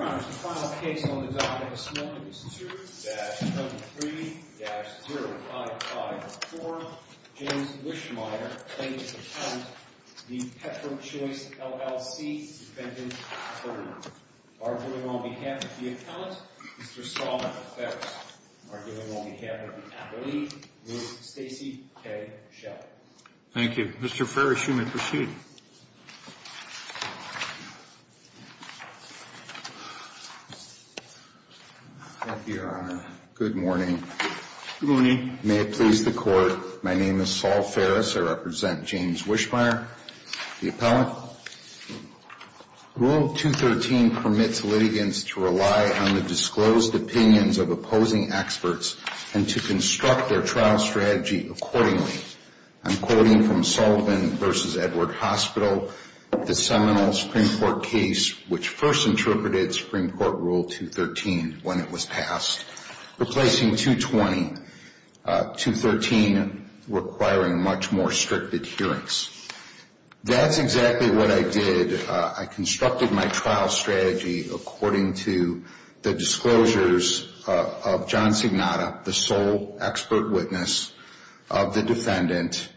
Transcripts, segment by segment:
2-73-0554 James Wischmeyer, plaintiff's appellant, v. Petrochoice, LLC, Defendant, 3rd. Arguing on behalf of the appellant, Mr. Saul Ferris. Arguing on behalf of the appellee, Ms. Stacey K. Schell. Thank you. Mr. Ferris, you may proceed. Thank you, Your Honor. Good morning. Good morning. May it please the Court, my name is Saul Ferris. I represent James Wischmeyer, the appellant. Rule 213 permits litigants to rely on the disclosed opinions of opposing experts and to construct their trial strategy accordingly. I'm quoting from Sullivan v. Edward Hospital, the seminal Supreme Court case which first interpreted Supreme Court Rule 213 when it was passed, replacing 220, 213 requiring much more strict adherence. That's exactly what I did. I constructed my trial strategy according to the disclosures of John Signata, the sole expert witness of the defendant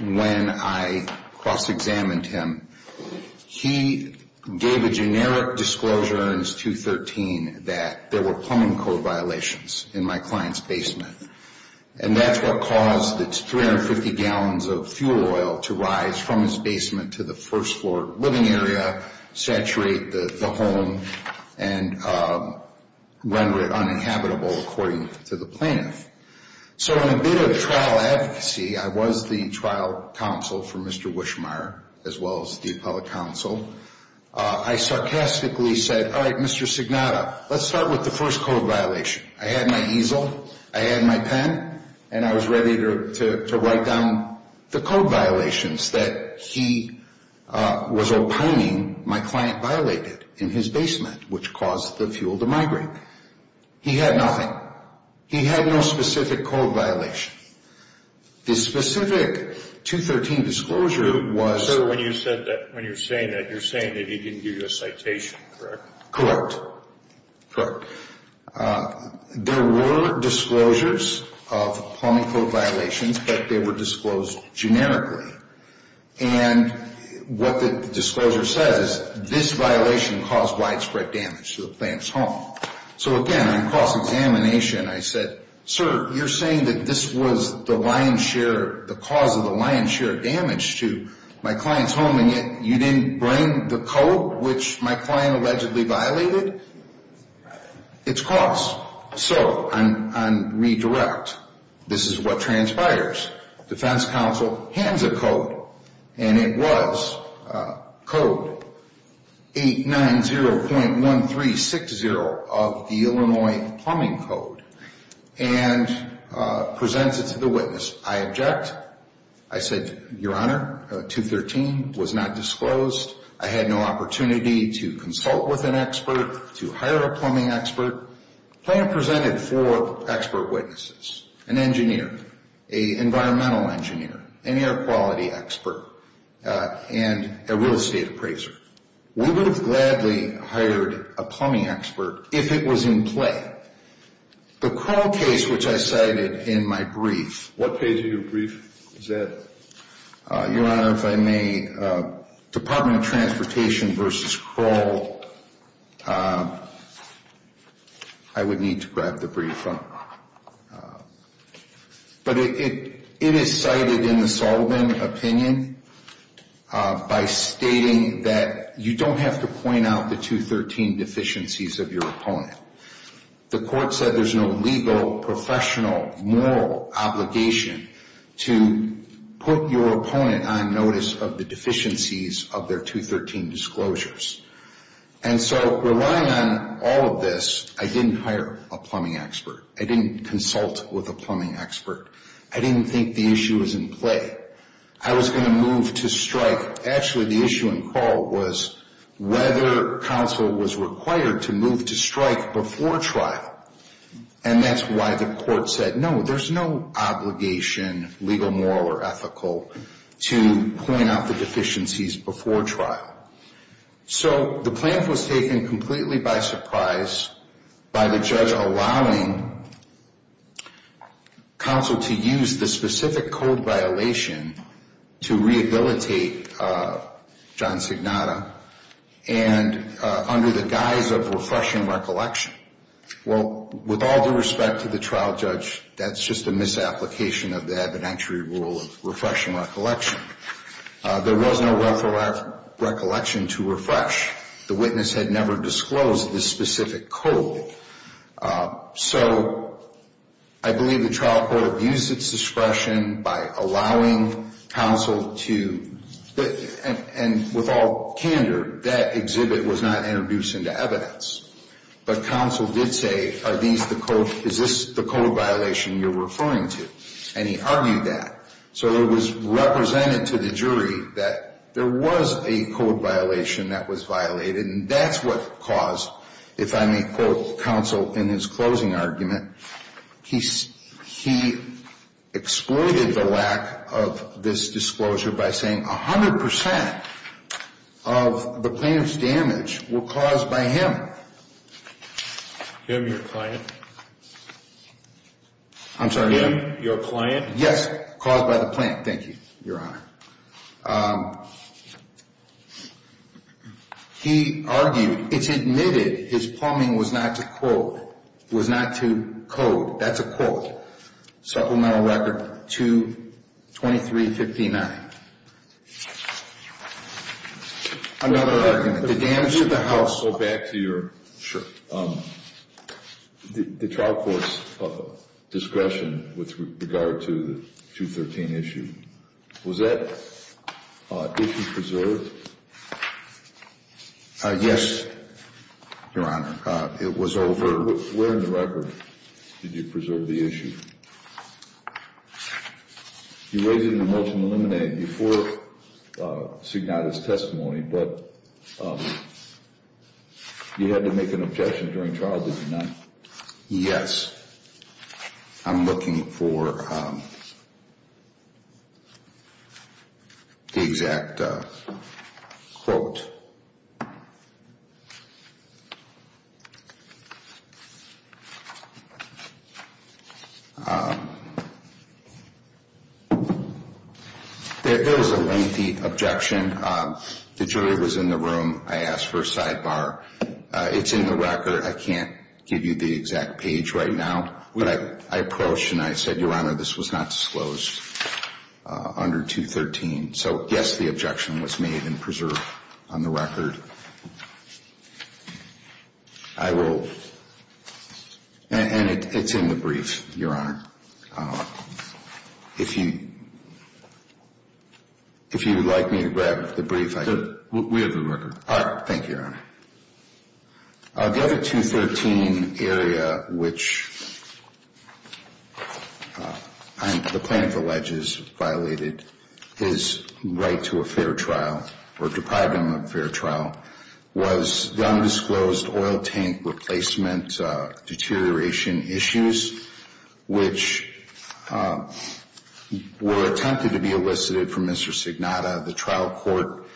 when I cross-examined him. He gave a generic disclosure in his 213 that there were plumbing code violations in my client's basement. And that's what caused the 350 gallons of fuel oil to rise from his basement to the first floor living area, saturate the home, and render it uninhabitable according to the plaintiff. So in a bid of trial advocacy, I was the trial counsel for Mr. Wischmeyer as well as the appellate counsel. I sarcastically said, all right, Mr. Signata, let's start with the first code violation. I had my easel, I had my pen, and I was ready to write down the code violations that he was opining my client violated in his basement, which caused the fuel to migrate. He had nothing. He had no specific code violation. The specific 213 disclosure was... So when you said that, when you're saying that, you're saying that he didn't give you a citation, correct? Correct. Correct. There were disclosures of plumbing code violations, but they were disclosed generically. And what the disclosure says is this violation caused widespread damage to the client's home. So again, on cross-examination, I said, sir, you're saying that this was the lion's share, the cause of the lion's share of damage to my client's home, and yet you didn't bring the code, which my client allegedly violated? It's cross. So on redirect, this is what transpires. Defense counsel hands a code, and it was code 890.1360 of the Illinois Plumbing Code, and presents it to the witness. I object. I said, your honor, 213 was not disclosed. I had no opportunity to consult with an expert, to hire a plumbing expert. The client presented four expert witnesses, an engineer, an environmental engineer, an air quality expert, and a real estate appraiser. We would have gladly hired a plumbing expert if it was in play. The Crow case, which I cited in my brief... What page of your brief is that? Your honor, if I may, Department of Transportation v. Crow, I would need to grab the brief. But it is cited in the Sullivan opinion by stating that you don't have to point out the 213 deficiencies of your opponent. The court said there's no legal, professional, moral obligation to put your opponent on notice of the deficiencies of their 213 disclosures. And so relying on all of this, I didn't hire a plumbing expert. I didn't consult with a plumbing expert. I didn't think the issue was in play. I was going to move to strike. Actually, the issue in Crow was whether counsel was required to move to strike before trial. And that's why the court said, no, there's no obligation, legal, moral, or ethical, to point out the deficiencies before trial. So the plan was taken completely by surprise by the judge allowing counsel to use the specific code violation to rehabilitate John Signata. And under the guise of refreshing recollection. Well, with all due respect to the trial judge, that's just a misapplication of the evidentiary rule of refreshing recollection. There was no recollection to refresh. The witness had never disclosed this specific code. So I believe the trial court abused its discretion by allowing counsel to, and with all candor, that exhibit was not introduced into evidence. But counsel did say, is this the code violation you're referring to? And he argued that. So it was represented to the jury that there was a code violation that was violated. And that's what caused, if I may quote counsel in his closing argument, he exploited the lack of this disclosure by saying 100% of the plaintiff's damage were caused by him. Him, your client? I'm sorry? Him, your client? Yes, caused by the plaintiff. Thank you, your honor. He argued, it's admitted his plumbing was not to quote, was not to code. That's a quote. Supplemental record 22359. Another argument. The damage to the house. I'll go back to your, the trial court's discretion with regard to the 213 issue. Was that issue preserved? Yes, your honor. It was over. Where in the record did you preserve the issue? You raised it in the motion to eliminate it before Sugnata's testimony, but you had to make an objection during trial, did you not? Yes. I'm looking for the exact quote. There is a lengthy objection. The jury was in the room. I asked for a sidebar. It's in the record. I can't give you the exact page right now, but I approached and I said, your honor, this was not disclosed under 213. So, yes, the objection was made and preserved on the record. I will, and it's in the brief, your honor. If you, if you would like me to grab the brief. We have the record. Thank you, your honor. The other 213 area, which the plaintiff alleges violated his right to a fair trial or deprived him of a fair trial, was the undisclosed oil tank replacement deterioration issues, which were attempted to be elicited from Mr. Signata. The trial court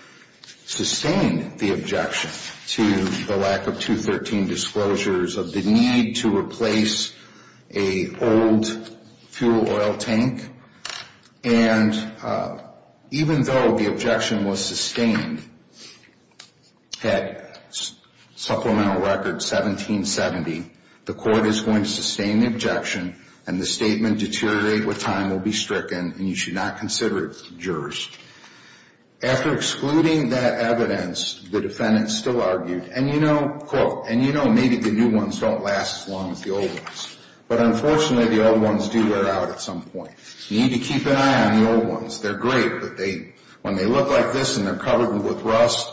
sustained the objection to the lack of 213 disclosures of the need to replace a old fuel oil tank. And even though the objection was sustained at supplemental record 1770, the court is going to sustain the objection and the statement deteriorate with time, will be stricken, and you should not consider it jurors. After excluding that evidence, the defendant still argued, and you know, quote, and you know, maybe the new ones don't last as long as the old ones. But unfortunately, the old ones do wear out at some point. You need to keep an eye on the old ones. They're great, but they, when they look like this and they're covered with rust,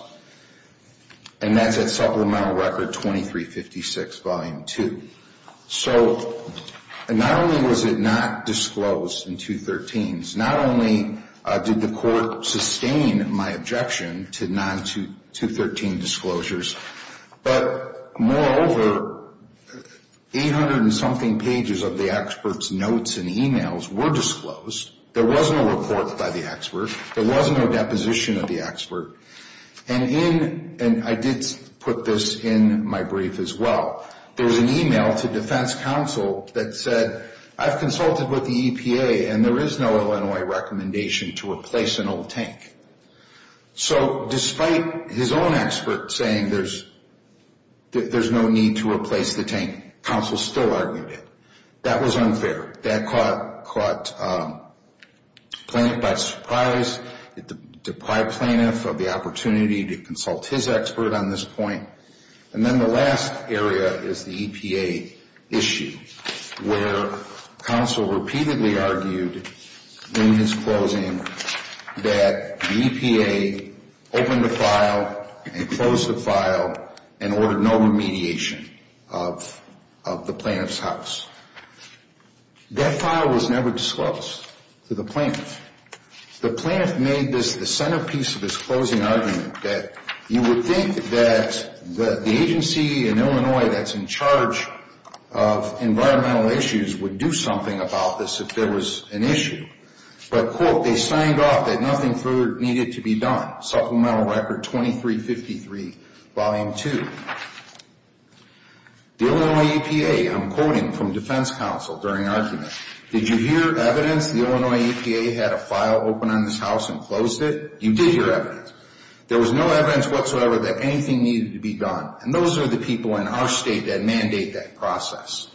and that's at supplemental record 2356, volume 2. So not only was it not disclosed in 213s, not only did the court sustain my objection to non-213 disclosures, but moreover, 800 and something pages of the expert's notes and emails were disclosed. There was no report by the expert. There was no deposition of the expert. And in, and I did put this in my brief as well, there was an email to defense counsel that said, I've consulted with the EPA, and there is no Illinois recommendation to replace an old tank. So despite his own expert saying there's no need to replace the tank, counsel still argued it. That was unfair. That caught plaintiff by surprise. It deprived plaintiff of the opportunity to consult his expert on this point. And then the last area is the EPA issue, where counsel repeatedly argued in his closing that the EPA opened the file and closed the file and ordered no remediation of the plaintiff's house. That file was never disclosed to the plaintiff. The plaintiff made this, the centerpiece of his closing argument that you would think that the agency in Illinois that's in charge of environmental issues would do something about this if there was an issue. But, quote, they signed off that nothing further needed to be done. Supplemental Record 2353, Volume 2. The Illinois EPA, I'm quoting from defense counsel during argument, did you hear evidence the Illinois EPA had a file open on this house and closed it? You did hear evidence. There was no evidence whatsoever that anything needed to be done. And those are the people in our state that mandate that process.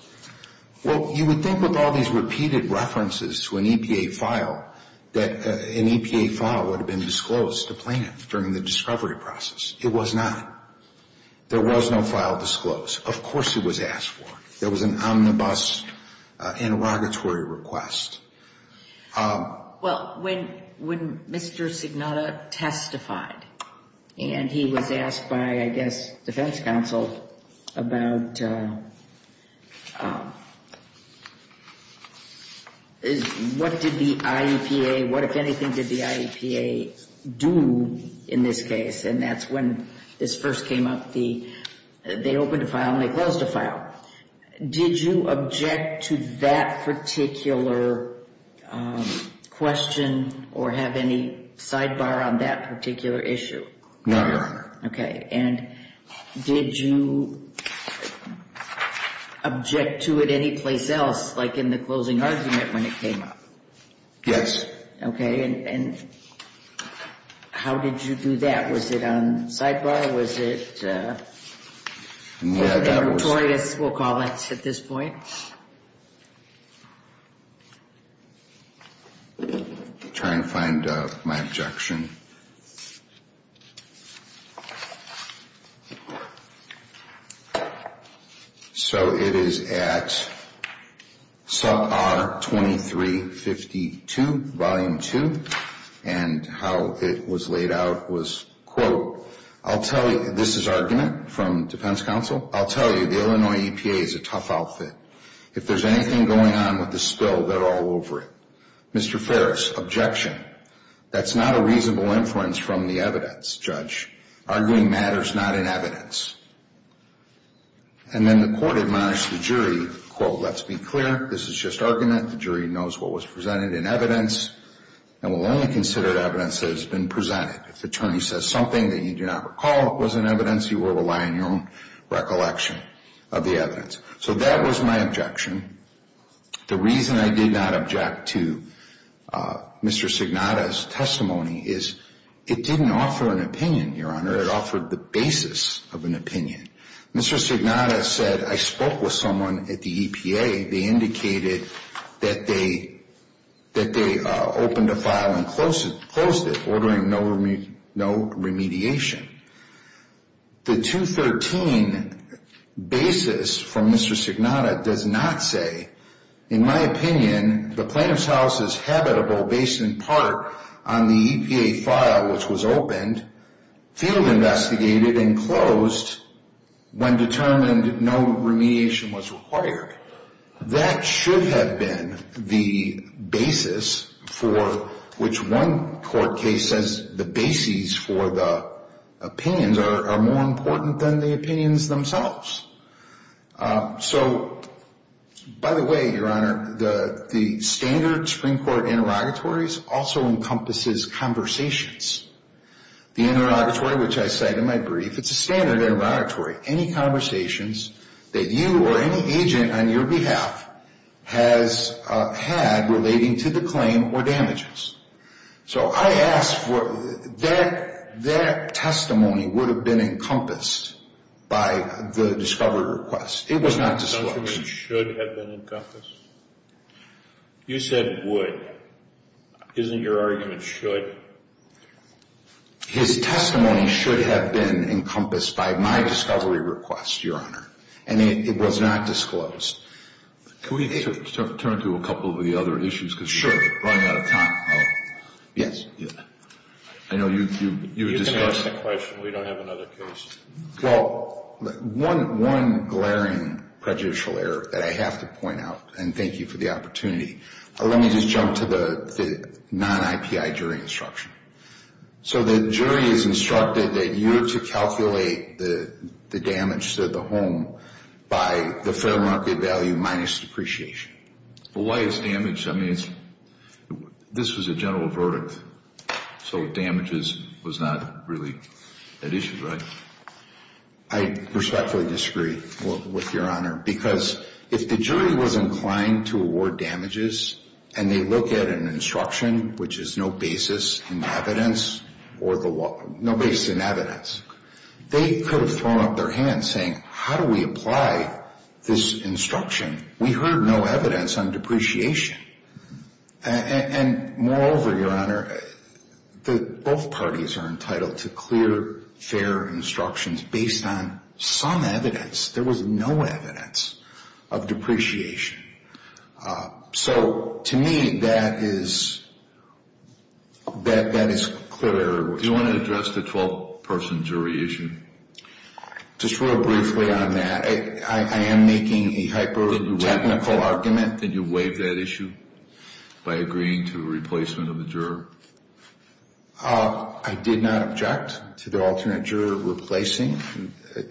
Well, you would think with all these repeated references to an EPA file that an EPA file would have been disclosed to plaintiff during the discovery process. It was not. There was no file disclosed. Of course it was asked for. There was an omnibus interrogatory request. Well, when Mr. Signata testified and he was asked by, I guess, defense counsel about what did the IEPA, what, if anything, did the IEPA do in this case, and that's when this first came up, they opened a file and they closed a file. Did you object to that particular question or have any sidebar on that particular issue? No, Your Honor. Okay. And did you object to it anyplace else, like in the closing argument when it came up? Yes. Okay. And how did you do that? Was it on sidebar? Yeah, that was on sidebar. And what was it? Yeah, that was on sidebar. And what did Victorias, we'll call it at this point? I'm trying to find my objection. So it is at sub R 2352, volume 2, and how it was laid out was, quote, I'll tell you, this is argument from defense counsel, I'll tell you the Illinois EPA is a tough outfit. If there's anything going on with the spill, they're all over it. Mr. Ferris, objection. That's not a reasonable argument. And then the court admonished the jury, quote, let's be clear, this is just argument. The jury knows what was presented in evidence and will only consider evidence that has been presented. If the attorney says something that you do not recall was in evidence, you will rely on your own recollection of the evidence. So that was my objection. The reason I did not object to Mr. Signata's testimony is it didn't offer an opinion, Your Honor. It offered the basis of an opinion. Mr. Signata said, I spoke with someone at the EPA. They indicated that they opened a file and closed it, ordering no remediation. The 213 basis from Mr. Signata does not say, in my opinion, the plaintiff's house is habitable based in part on the EPA file which was opened, field investigated, and closed when determined no remediation was required. That should have been the basis for which one court case says the bases for the opinions are more important than the opinions themselves. So, by the way, Your Honor, the standard Supreme Court interrogatories also encompasses conversations. The interrogatory which I cite in my brief, it's a standard interrogatory. Any conversations that you or any agent on your behalf has had relating to the claim or damages. So I asked for that testimony would have been encompassed by the discovery request. It was not disclosed. The testimony should have been encompassed? You said would. Isn't your argument should? His testimony should have been encompassed by my discovery request, Your Honor. And it was not disclosed. Can we turn to a couple of the other issues? Sure. Running out of time. Yes. I know you discussed the question. We don't have another case. Well, one glaring prejudicial error that I have to point out, and thank you for the opportunity, let me just jump to the non-IPI jury instruction. So the jury is instructed that you're to calculate the damage to the home by the fair market value minus depreciation. Well, why is damage? I mean, this was a general verdict. So damages was not really an issue, right? I respectfully disagree with Your Honor. Because if the jury was inclined to award damages and they look at an instruction, which is no basis in evidence, they could have thrown up their hands saying, how do we apply this instruction? We heard no evidence on depreciation. And moreover, Your Honor, both parties are entitled to clear, fair instructions based on some evidence. There was no evidence of depreciation. So to me, that is clear. Do you want to address the 12-person jury issue? Just real briefly on that. I am making a hyper-technical argument. Did you waive that issue by agreeing to a replacement of the juror? I did not object to the alternate juror replacing.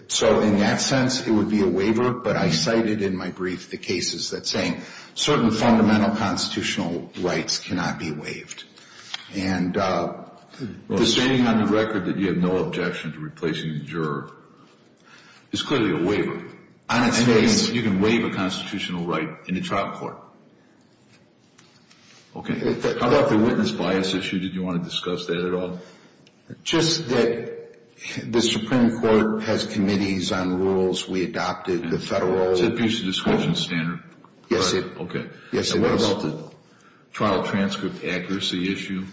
So in that sense, it would be a waiver. But I cited in my brief the cases that say certain fundamental constitutional rights cannot be waived. And the stating on the record that you have no objection to replacing the juror is clearly a waiver. On its face. You can waive a constitutional right in a trial court. Okay. How about the witness bias issue? Did you want to discuss that at all? Just that the Supreme Court has committees on rules. We adopted the federal. It's a piece of discretion standard. Yes, it is. And what about the trial transcript accuracy issue?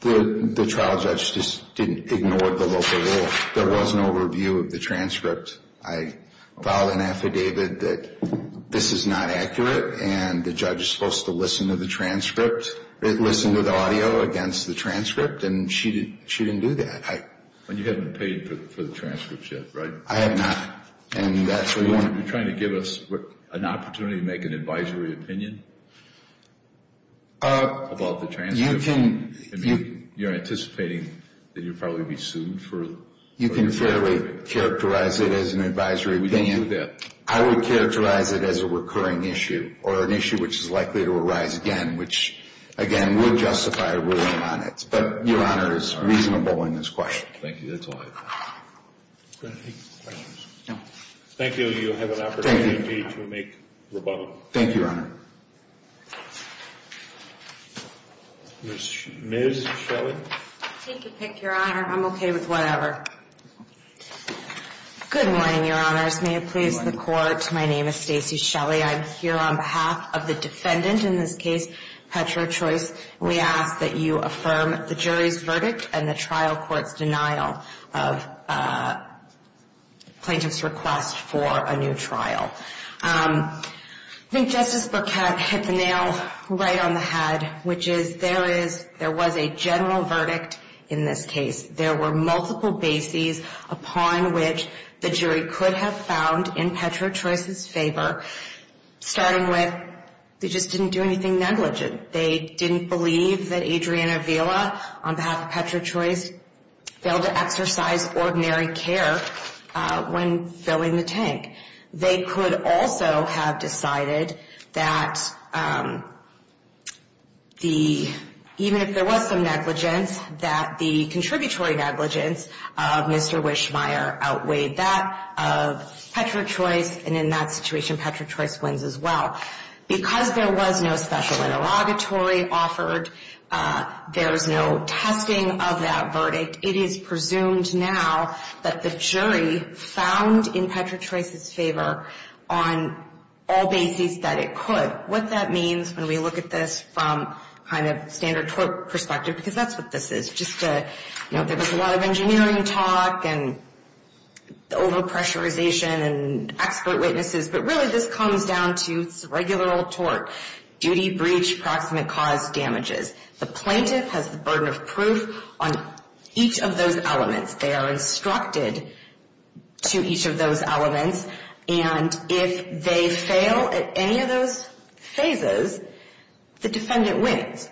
The trial judge just didn't ignore the local rule. There was no review of the transcript. I filed an affidavit that this is not accurate, and the judge is supposed to listen to the transcript, listen to the audio against the transcript, and she didn't do that. And you haven't paid for the transcript yet, right? I have not. And that's what we want. Are you trying to give us an opportunity to make an advisory opinion about the transcript? You can. You're anticipating that you'll probably be sued for the transcript. You can fairly characterize it as an advisory opinion. I would characterize it as a recurring issue or an issue which is likely to arise again, which, again, would justify a ruling on it. But, Your Honor, it's reasonable in this question. Thank you. That's all I have. Do you have any questions? No. Thank you. You have an opportunity to make rebuttal. Thank you, Your Honor. Ms. Shelley? Take your pick, Your Honor. I'm okay with whatever. Good morning, Your Honors. May it please the Court. My name is Stacy Shelley. I'm here on behalf of the defendant in this case, Petrochoice. We ask that you affirm the jury's verdict and the trial court's denial of plaintiff's request for a new trial. I think Justice Burkett hit the nail right on the head, which is there was a general verdict in this case. There were multiple bases upon which the jury could have found in Petrochoice's favor, starting with they just didn't do anything negligent. They didn't believe that Adrienne Avila, on behalf of Petrochoice, failed to exercise ordinary care when filling the tank. They could also have decided that even if there was some negligence, that the contributory negligence of Mr. Wischmeier outweighed that of Petrochoice. And in that situation, Petrochoice wins as well. Because there was no special interrogatory offered, there was no testing of that verdict, it is presumed now that the jury found in Petrochoice's favor on all bases that it could. What that means when we look at this from kind of standard court perspective, because that's what this is, just to, you know, there was a lot of engineering talk and overpressurization and expert witnesses, but really this comes down to it's a regular old tort. Duty, breach, proximate cause, damages. The plaintiff has the burden of proof on each of those elements. They are instructed to each of those elements, and if they fail at any of those phases, the defendant wins.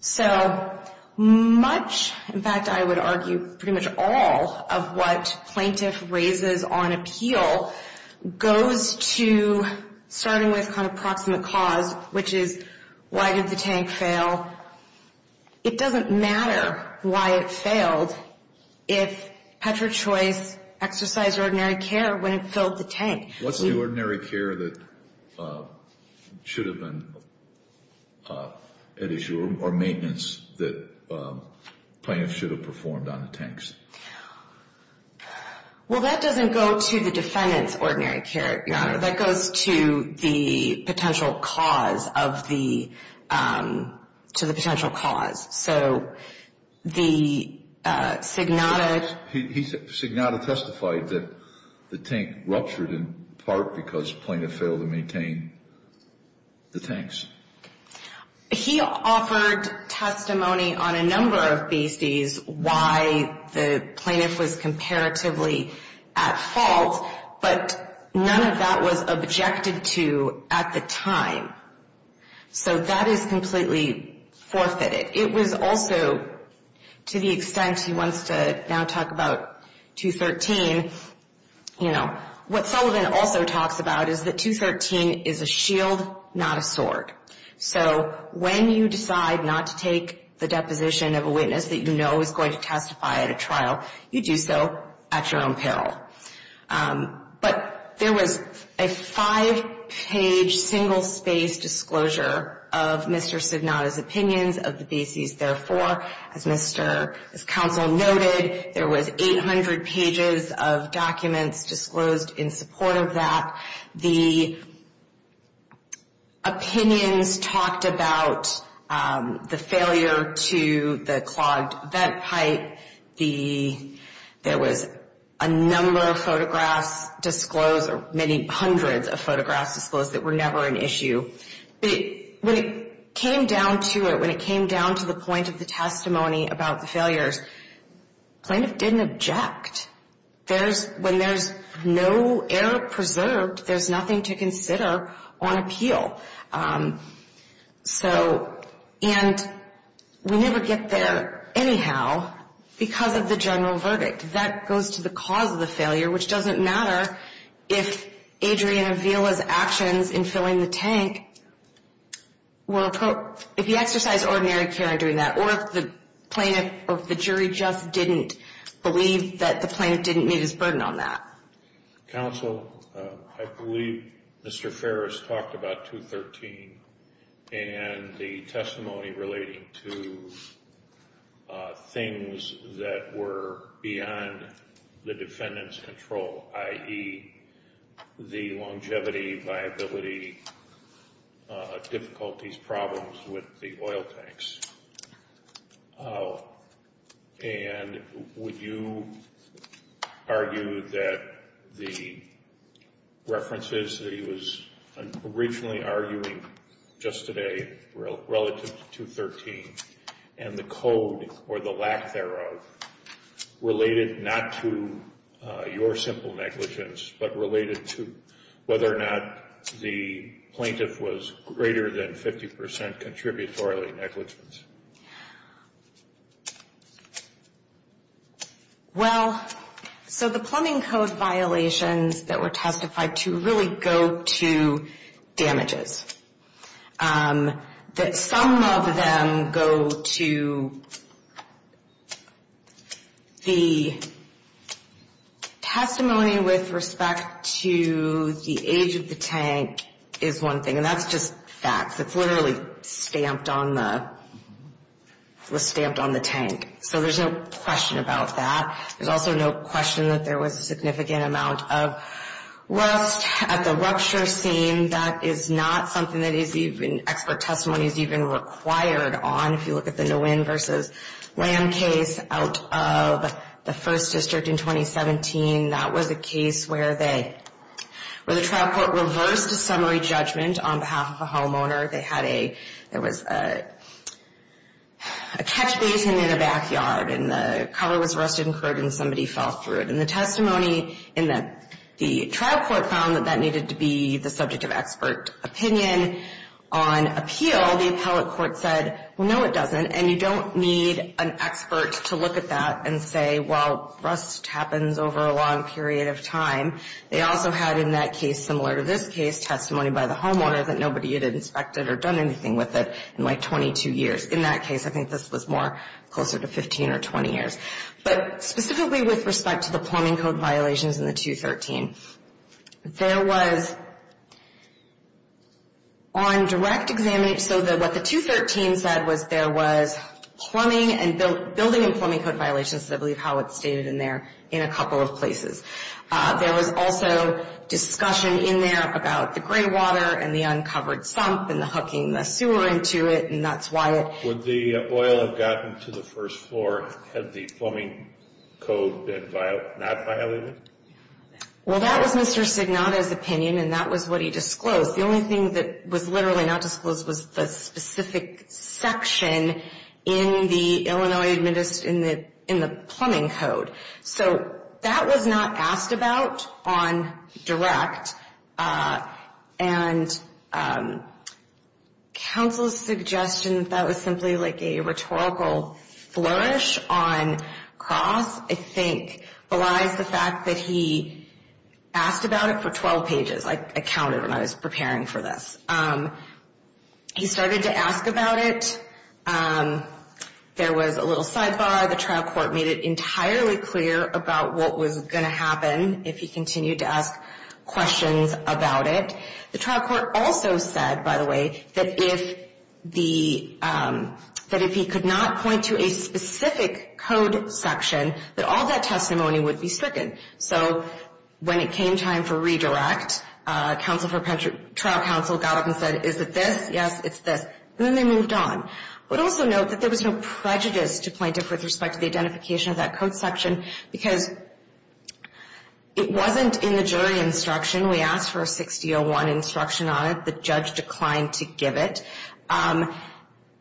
So much, in fact I would argue pretty much all of what plaintiff raises on appeal goes to starting with kind of proximate cause, which is why did the tank fail. It doesn't matter why it failed if Petrochoice exercised ordinary care when it filled the tank. What's the ordinary care that should have been at issue or maintenance that plaintiff should have performed on the tanks? Well, that doesn't go to the defendant's ordinary care, Your Honor. That goes to the potential cause of the, to the potential cause. So the signata. Signata testified that the tank ruptured in part because plaintiff failed to maintain the tanks. He offered testimony on a number of these days why the plaintiff was comparatively at fault, but none of that was objected to at the time. So that is completely forfeited. It was also, to the extent he wants to now talk about 213, you know, what Sullivan also talks about is that 213 is a shield, not a sword. So when you decide not to take the deposition of a witness that you know is going to testify at a trial, you do so at your own peril. But there was a five-page, single-space disclosure of Mr. Signata's opinions of the bases. Therefore, as Mr. Counsel noted, there was 800 pages of documents disclosed in support of that. The opinions talked about the failure to the clogged vent pipe. There was a number of photographs disclosed or many hundreds of photographs disclosed that were never an issue. But when it came down to it, when it came down to the point of the testimony about the failures, plaintiff didn't object. When there's no error preserved, there's nothing to consider on appeal. And we never get there anyhow because of the general verdict. That goes to the cause of the failure, which doesn't matter if Adrian Avila's actions in filling the tank were appropriate. If he exercised ordinary care in doing that or if the jury just didn't believe that the plaintiff didn't meet his burden on that. Counsel, I believe Mr. Ferris talked about 213 and the testimony relating to things that were beyond the defendant's control, i.e., the longevity, viability, difficulties, problems with the oil tanks. And would you argue that the references that he was originally arguing just today relative to 213 and the code or the lack thereof related not to your simple negligence but related to whether or not the plaintiff was greater than 50% contributory negligence? Well, so the plumbing code violations that were testified to really go to damages. That some of them go to the testimony with respect to the age of the tank is one thing, and that's just facts. It's literally stamped on the tank, so there's no question about that. There's also no question that there was a significant amount of rust at the rupture scene. That is not something that expert testimony is even required on. If you look at the Nguyen v. Lamb case out of the 1st District in 2017, that was a case where the trial court reversed a summary judgment on behalf of a homeowner. They had a, there was a catch basin in the backyard, and the cover was rusted and crude, and somebody fell through it. And the testimony in the trial court found that that needed to be the subject of expert opinion. On appeal, the appellate court said, well, no, it doesn't, and you don't need an expert to look at that and say, well, rust happens over a long period of time. They also had in that case, similar to this case, testimony by the homeowner that nobody had inspected or done anything with it in, like, 22 years. In that case, I think this was more closer to 15 or 20 years. But specifically with respect to the plumbing code violations in the 213, there was on direct examination, so what the 213 said was there was plumbing and building and plumbing code violations, I believe how it's stated in there, in a couple of places. There was also discussion in there about the gray water and the uncovered sump and the hooking the sewer into it, and that's why it. Would the oil have gotten to the first floor had the plumbing code been not violated? Well, that was Mr. Signata's opinion, and that was what he disclosed. The only thing that was literally not disclosed was the specific section in the Illinois, in the plumbing code. So that was not asked about on direct. And counsel's suggestion that that was simply like a rhetorical flourish on cross, I think, belies the fact that he asked about it for 12 pages. I counted when I was preparing for this. He started to ask about it. There was a little sidebar. The trial court made it entirely clear about what was going to happen if he continued to ask questions about it. The trial court also said, by the way, that if he could not point to a specific code section, that all that testimony would be stricken. So when it came time for redirect, trial counsel got up and said, is it this? Yes, it's this. And then they moved on. I would also note that there was no prejudice to plaintiff with respect to the identification of that code section because it wasn't in the jury instruction. We asked for a 6-0-1 instruction on it. The judge declined to give it. And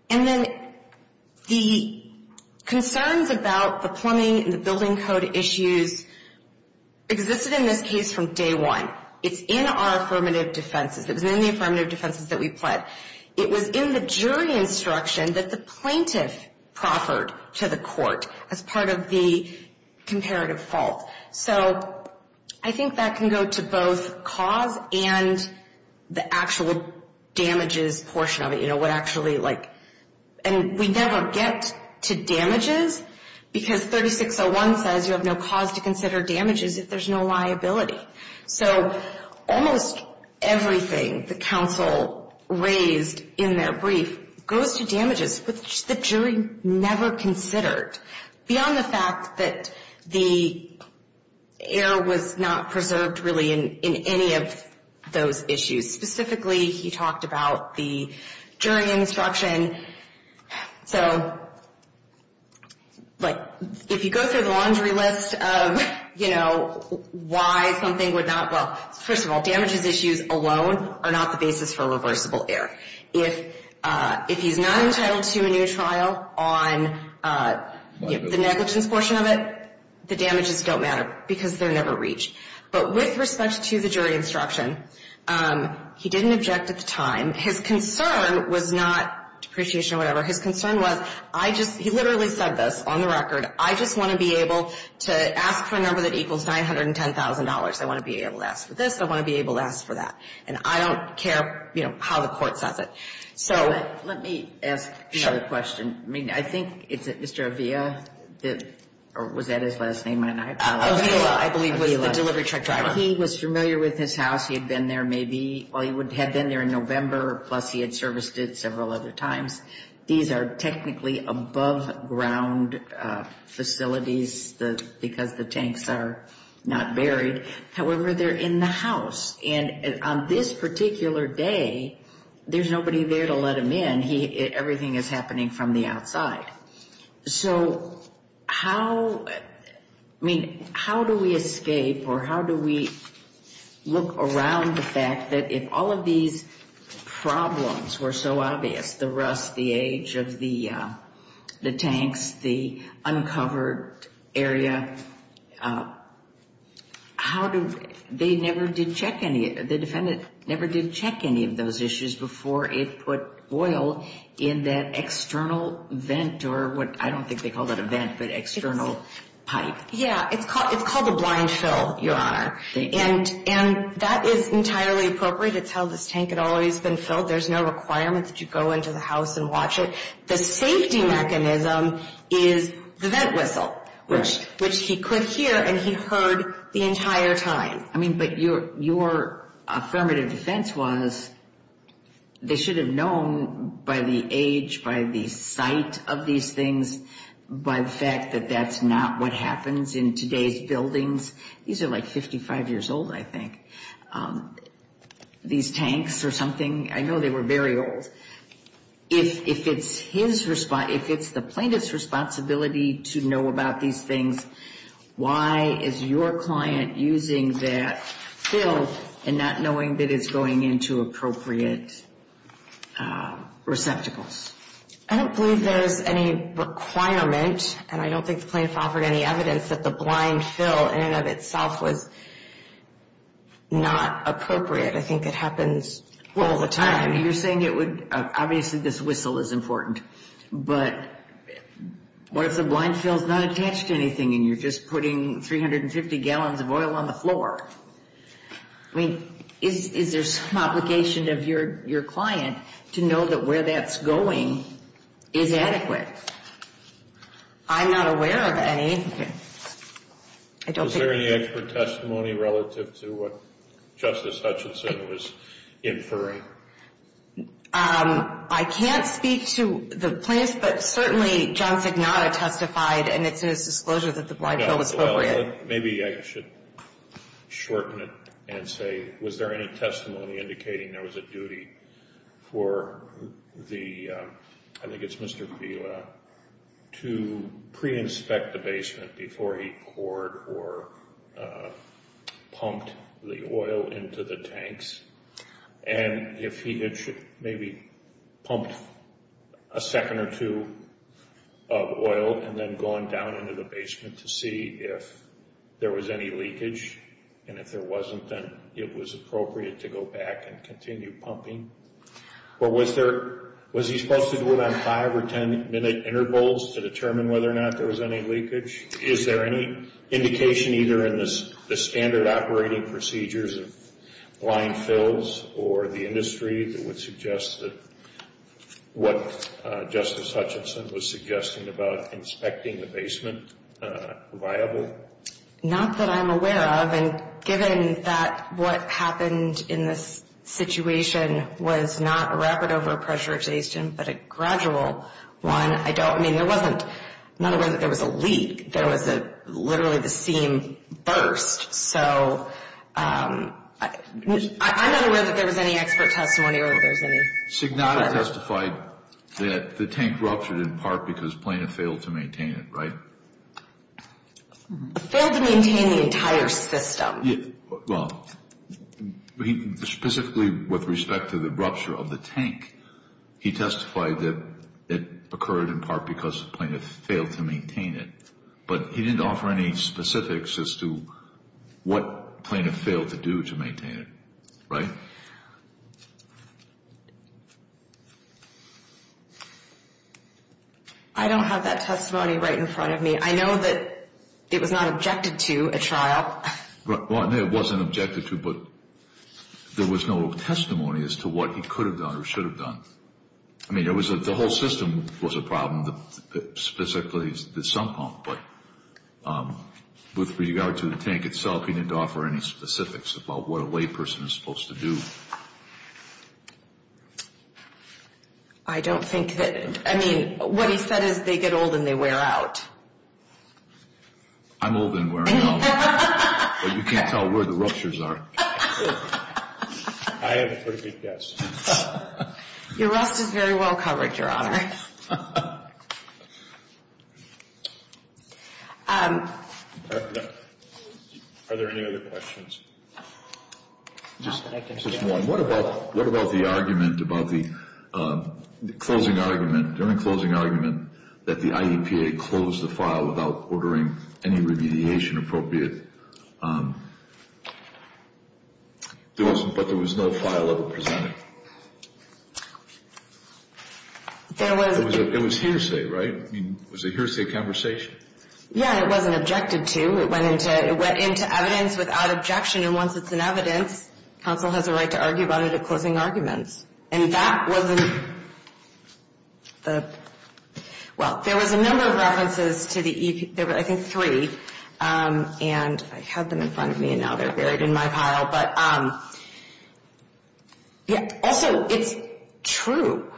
then the concerns about the plumbing and the building code issues existed in this case from day one. It's in our affirmative defenses. It was in the affirmative defenses that we pled. It was in the jury instruction that the plaintiff proffered to the court as part of the comparative fault. So I think that can go to both cause and the actual damages portion of it, you know, what actually, like, and we never get to damages because 36-0-1 says you have no cause to consider damages if there's no liability. So almost everything the counsel raised in their brief goes to damages, which the jury never considered, beyond the fact that the error was not preserved really in any of those issues. Specifically, he talked about the jury instruction. And so, like, if you go through the laundry list of, you know, why something would not, well, first of all, damages issues alone are not the basis for reversible error. If he's not entitled to a new trial on the negligence portion of it, the damages don't matter because they're never reached. But with respect to the jury instruction, he didn't object at the time. His concern was not depreciation or whatever. His concern was, I just, he literally said this on the record. I just want to be able to ask for a number that equals $910,000. I want to be able to ask for this. I want to be able to ask for that. And I don't care, you know, how the court says it. So let me ask another question. I mean, I think it's Mr. Avila that, or was that his last name? Avila, I believe, was the delivery truck driver. He was familiar with his house. He had been there maybe, well, he had been there in November, plus he had serviced it several other times. These are technically above ground facilities because the tanks are not buried. However, they're in the house. And on this particular day, there's nobody there to let him in. Everything is happening from the outside. So how, I mean, how do we escape or how do we look around the fact that if all of these problems were so obvious, the rust, the age of the tanks, the uncovered area, how do, they never did check any, the defendant never did check any of those issues before it put oil in that external vent or what, I don't think they call that a vent, but external pipe. Yeah, it's called a blind fill, Your Honor. And that is entirely appropriate. It's how this tank had always been filled. There's no requirement that you go into the house and watch it. The safety mechanism is the vent whistle, which he could hear and he heard the entire time. I mean, but your affirmative defense was they should have known by the age, by the sight of these things, by the fact that that's not what happens in today's buildings. These are like 55 years old, I think. These tanks or something, I know they were very old. If it's his, if it's the plaintiff's responsibility to know about these things, why is your client using that fill and not knowing that it's going into appropriate receptacles? I don't believe there's any requirement, and I don't think the plaintiff offered any evidence that the blind fill in and of itself was not appropriate. I think it happens all the time. I mean, you're saying it would, obviously this whistle is important, but what if the blind fill is not attached to anything and you're just putting 350 gallons of oil on the floor? I mean, is there some obligation of your client to know that where that's going is adequate? I'm not aware of any. Is there any expert testimony relative to what Justice Hutchinson was inferring? I can't speak to the plaintiff, but certainly John Signata testified, and it's in his disclosure that the blind fill was appropriate. Maybe I should shorten it and say, was there any testimony indicating there was a duty for the, I think it's Mr. Vila, to pre-inspect the basement before he poured or pumped the oil into the tanks? And if he had maybe pumped a second or two of oil and then gone down into the basement to see if there was any leakage, and if there wasn't, then it was appropriate to go back and continue pumping. Or was he supposed to do it on five or ten minute intervals to determine whether or not there was any leakage? Is there any indication either in the standard operating procedures of blind fills or the industry that would suggest that what Justice Hutchinson was suggesting about inspecting the basement viable? Not that I'm aware of. And given that what happened in this situation was not a rapid over-pressurization but a gradual one, I don't, I mean, there wasn't, I'm not aware that there was a leak. There was literally the seam burst. So I'm not aware that there was any expert testimony or that there was any. Signata testified that the tank ruptured in part because plaintiff failed to maintain it, right? Failed to maintain the entire system. Well, specifically with respect to the rupture of the tank, he testified that it occurred in part because the plaintiff failed to maintain it. But he didn't offer any specifics as to what plaintiff failed to do to maintain it, right? I don't have that testimony right in front of me. I mean, I know that it was not objected to at trial. Well, it wasn't objected to, but there was no testimony as to what he could have done or should have done. I mean, the whole system was a problem, specifically the sump pump. But with regard to the tank itself, he didn't offer any specifics about what a layperson is supposed to do. I don't think that, I mean, what he said is they get old and they wear out. I'm old and wearing out. But you can't tell where the ruptures are. I have a pretty good guess. Your rust is very well covered, Your Honor. Are there any other questions? Just one. What about the argument about the closing argument, the only closing argument that the IEPA closed the file without ordering any remediation appropriate? But there was no file ever presented. It was hearsay, right? I mean, was it hearsay conversation? Yeah, it wasn't objected to. It went into evidence without objection, and once it's in evidence, counsel has a right to argue about it at closing arguments. And that wasn't the – well, there was a number of references to the – there were, I think, three. And I have them in front of me, and now they're buried in my pile. But also, it's true.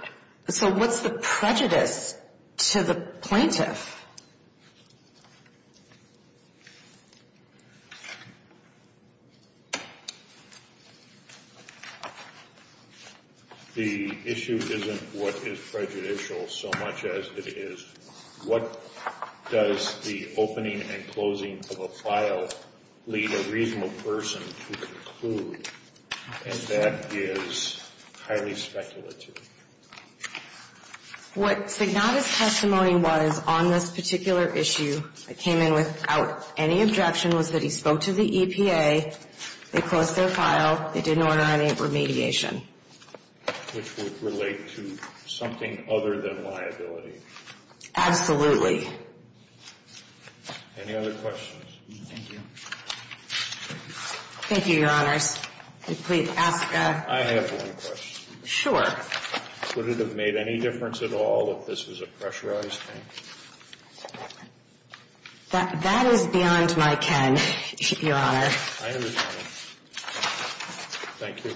So what's the prejudice to the plaintiff? The issue isn't what is prejudicial so much as it is what does the opening and closing of a file lead a reasonable person to conclude, and that is highly speculative. What Signata's testimony was on this particular issue that came in without any objection was that he spoke to the EPA, they closed their file, they didn't order any remediation. Which would relate to something other than liability. Absolutely. Any other questions? Thank you. Thank you, Your Honors. And please ask a – I have one question. Sure. Would it have made any difference at all if this was a pressurized thing? That is beyond my ken, Your Honor. I understand. Thank you.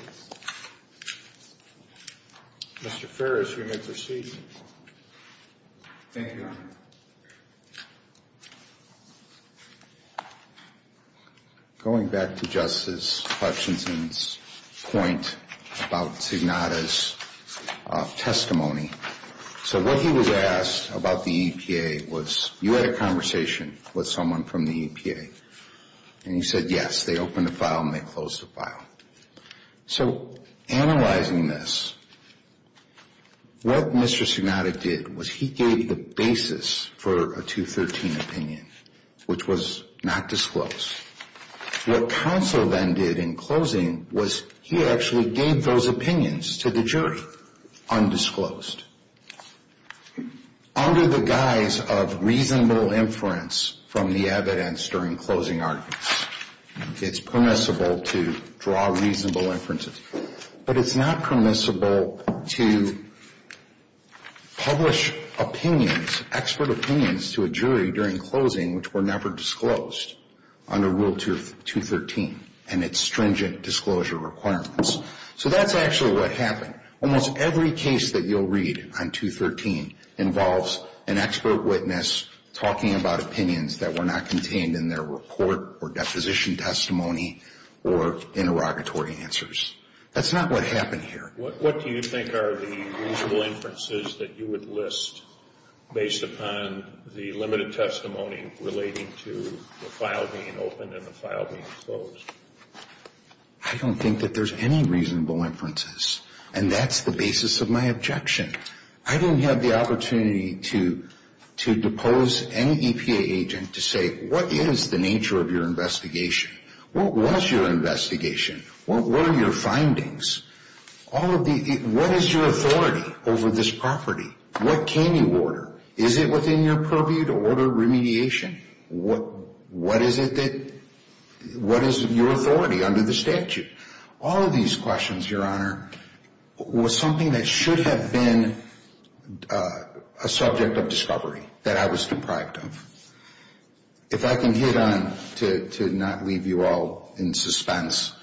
Mr. Ferris, you may proceed. Thank you, Your Honor. Going back to Justice Hutchinson's point about Signata's testimony, so what he was asked about the EPA was, you had a conversation with someone from the EPA, and you said, yes, they opened the file and they closed the file. So analyzing this, what Mr. Signata did was he gave the basis for a 213 opinion, which was not disclosed. What counsel then did in closing was he actually gave those opinions to the jury undisclosed. Under the guise of reasonable inference from the evidence during closing arguments, it's permissible to draw reasonable inferences. But it's not permissible to publish opinions, expert opinions, to a jury during closing, which were never disclosed under Rule 213 and its stringent disclosure requirements. So that's actually what happened. Almost every case that you'll read on 213 involves an expert witness talking about opinions that were not contained in their report or deposition testimony or interrogatory answers. That's not what happened here. What do you think are the reasonable inferences that you would list based upon the limited testimony relating to the file being opened and the file being closed? I don't think that there's any reasonable inferences, and that's the basis of my objection. I don't have the opportunity to depose any EPA agent to say, what is the nature of your investigation? What was your investigation? What were your findings? What is your authority over this property? What can you order? Is it within your purview to order remediation? What is your authority under the statute? All of these questions, Your Honor, was something that should have been a subject of discovery that I was deprived of. If I can hit on, to not leave you all in suspense,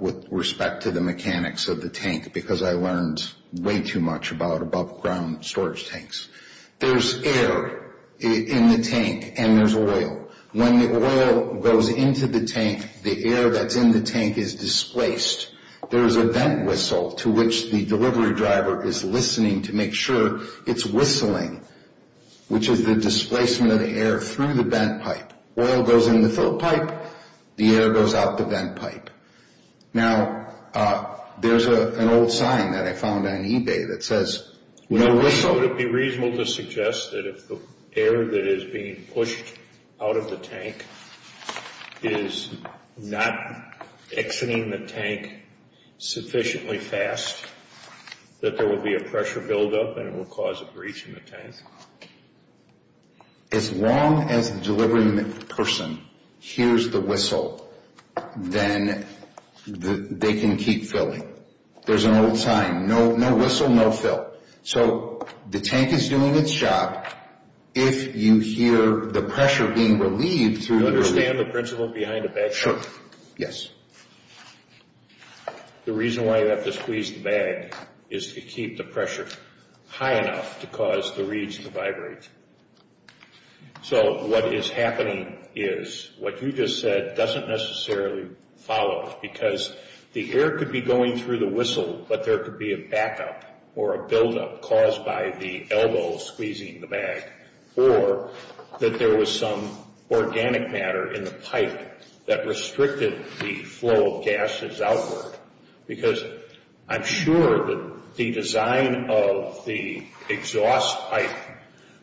with respect to the mechanics of the tank, because I learned way too much about above-ground storage tanks. There's air in the tank and there's oil. When the oil goes into the tank, the air that's in the tank is displaced. There's a vent whistle to which the delivery driver is listening to make sure it's whistling, which is the displacement of the air through the vent pipe. Oil goes in the fill pipe, the air goes out the vent pipe. Now, there's an old sign that I found on eBay that says, no whistle. So would it be reasonable to suggest that if the air that is being pushed out of the tank is not exiting the tank sufficiently fast, that there will be a pressure buildup and it will cause a breach in the tank? As long as the delivery person hears the whistle, then they can keep filling. There's an old sign, no whistle, no fill. So the tank is doing its job. If you hear the pressure being relieved through the relief... Do you understand the principle behind the bag? Sure, yes. The reason why you have to squeeze the bag is to keep the pressure high enough to cause the reeds to vibrate. So what is happening is what you just said doesn't necessarily follow, because the air could be going through the whistle, but there could be a backup or a buildup caused by the elbow squeezing the bag, or that there was some organic matter in the pipe that restricted the flow of gases outward. Because I'm sure that the design of the exhaust pipe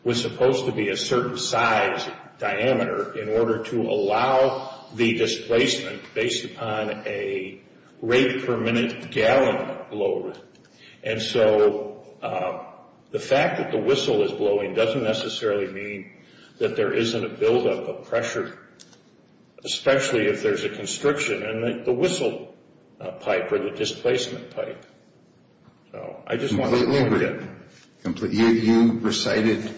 was supposed to be a certain size diameter in order to allow the displacement based upon a rate per minute gallon load. And so the fact that the whistle is blowing doesn't necessarily mean that there isn't a buildup of pressure, especially if there's a constriction in the whistle pipe or the displacement pipe. So I just want to... Completely agree. You recited,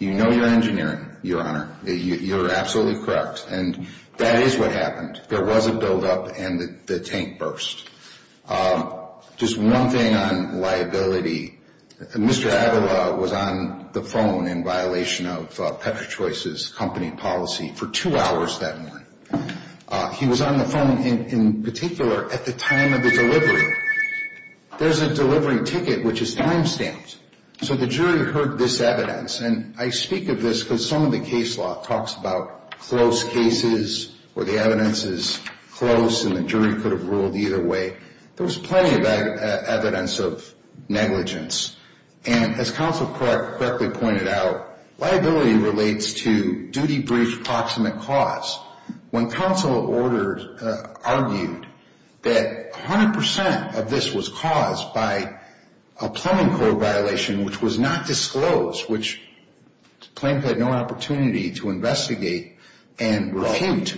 you know your engineering, Your Honor. You're absolutely correct. And that is what happened. There was a buildup and the tank burst. Just one thing on liability. Mr. Avila was on the phone in violation of Petrochoice's company policy for two hours that morning. He was on the phone in particular at the time of the delivery. There's a delivery ticket which is time stamped. So the jury heard this evidence. And I speak of this because some of the case law talks about close cases where the evidence is close and the jury could have ruled either way. There was plenty of evidence of negligence. And as counsel correctly pointed out, liability relates to duty brief proximate cause. When counsel argued that 100% of this was caused by a plumbing code violation which was not disclosed, which plaintiff had no opportunity to investigate and refute.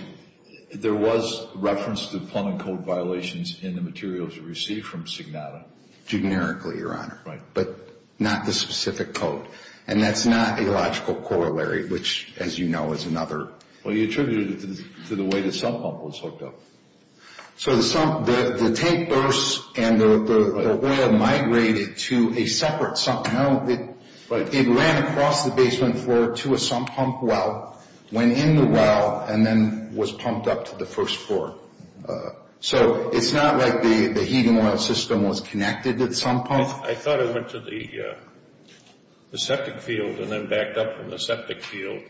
There was reference to plumbing code violations in the materials received from Signata. Generically, Your Honor. Right. But not the specific code. And that's not a logical corollary which, as you know, is another. Well, you attributed it to the way the sump pump was hooked up. So the tank burst and the well migrated to a separate sump pump. It ran across the basement floor to a sump pump well, went in the well, and then was pumped up to the first floor. So it's not like the heating oil system was connected to the sump pump? I thought it went to the septic field and then backed up from the septic field.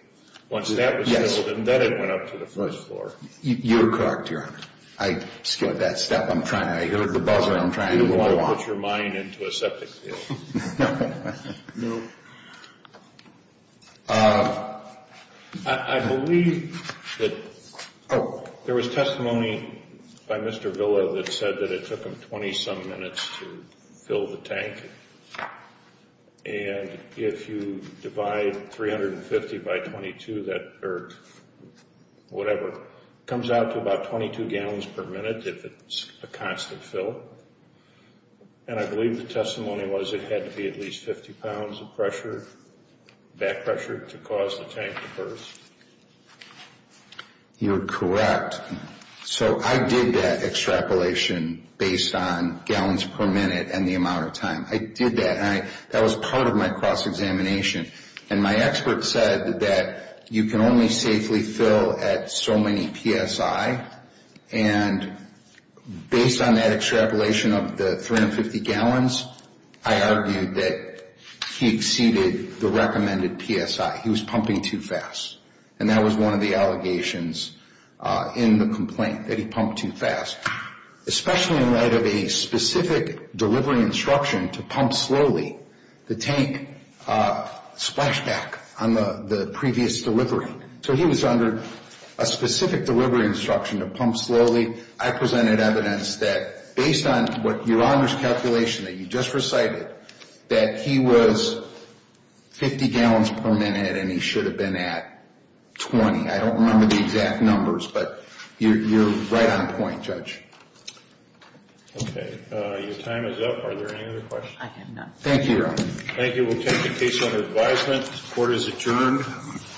Once that was filled, then it went up to the first floor. You're correct, Your Honor. I skipped that step. I heard the buzzer. I'm trying to move along. You didn't want to put your mind into a septic field. No. I believe that there was testimony by Mr. Villa that said that it took him 20-some minutes to fill the tank. And if you divide 350 by 22, that comes out to about 22 gallons per minute if it's a constant fill. And I believe the testimony was it had to be at least 50 pounds of pressure, back pressure, to cause the tank to burst. You're correct. So I did that extrapolation based on gallons per minute and the amount of time. I did that. That was part of my cross-examination. And my expert said that you can only safely fill at so many psi. And based on that extrapolation of the 350 gallons, I argued that he exceeded the recommended psi. He was pumping too fast. And that was one of the allegations in the complaint, that he pumped too fast. Especially in light of a specific delivery instruction to pump slowly, the tank splashed back on the previous delivery. So he was under a specific delivery instruction to pump slowly. I presented evidence that based on what your Honor's calculation, that you just recited, that he was 50 gallons per minute and he should have been at 20. I don't remember the exact numbers, but you're right on point, Judge. Okay. Your time is up. Are there any other questions? I have none. Thank you, Your Honor. Thank you. We'll take the case under advisement. Court is adjourned.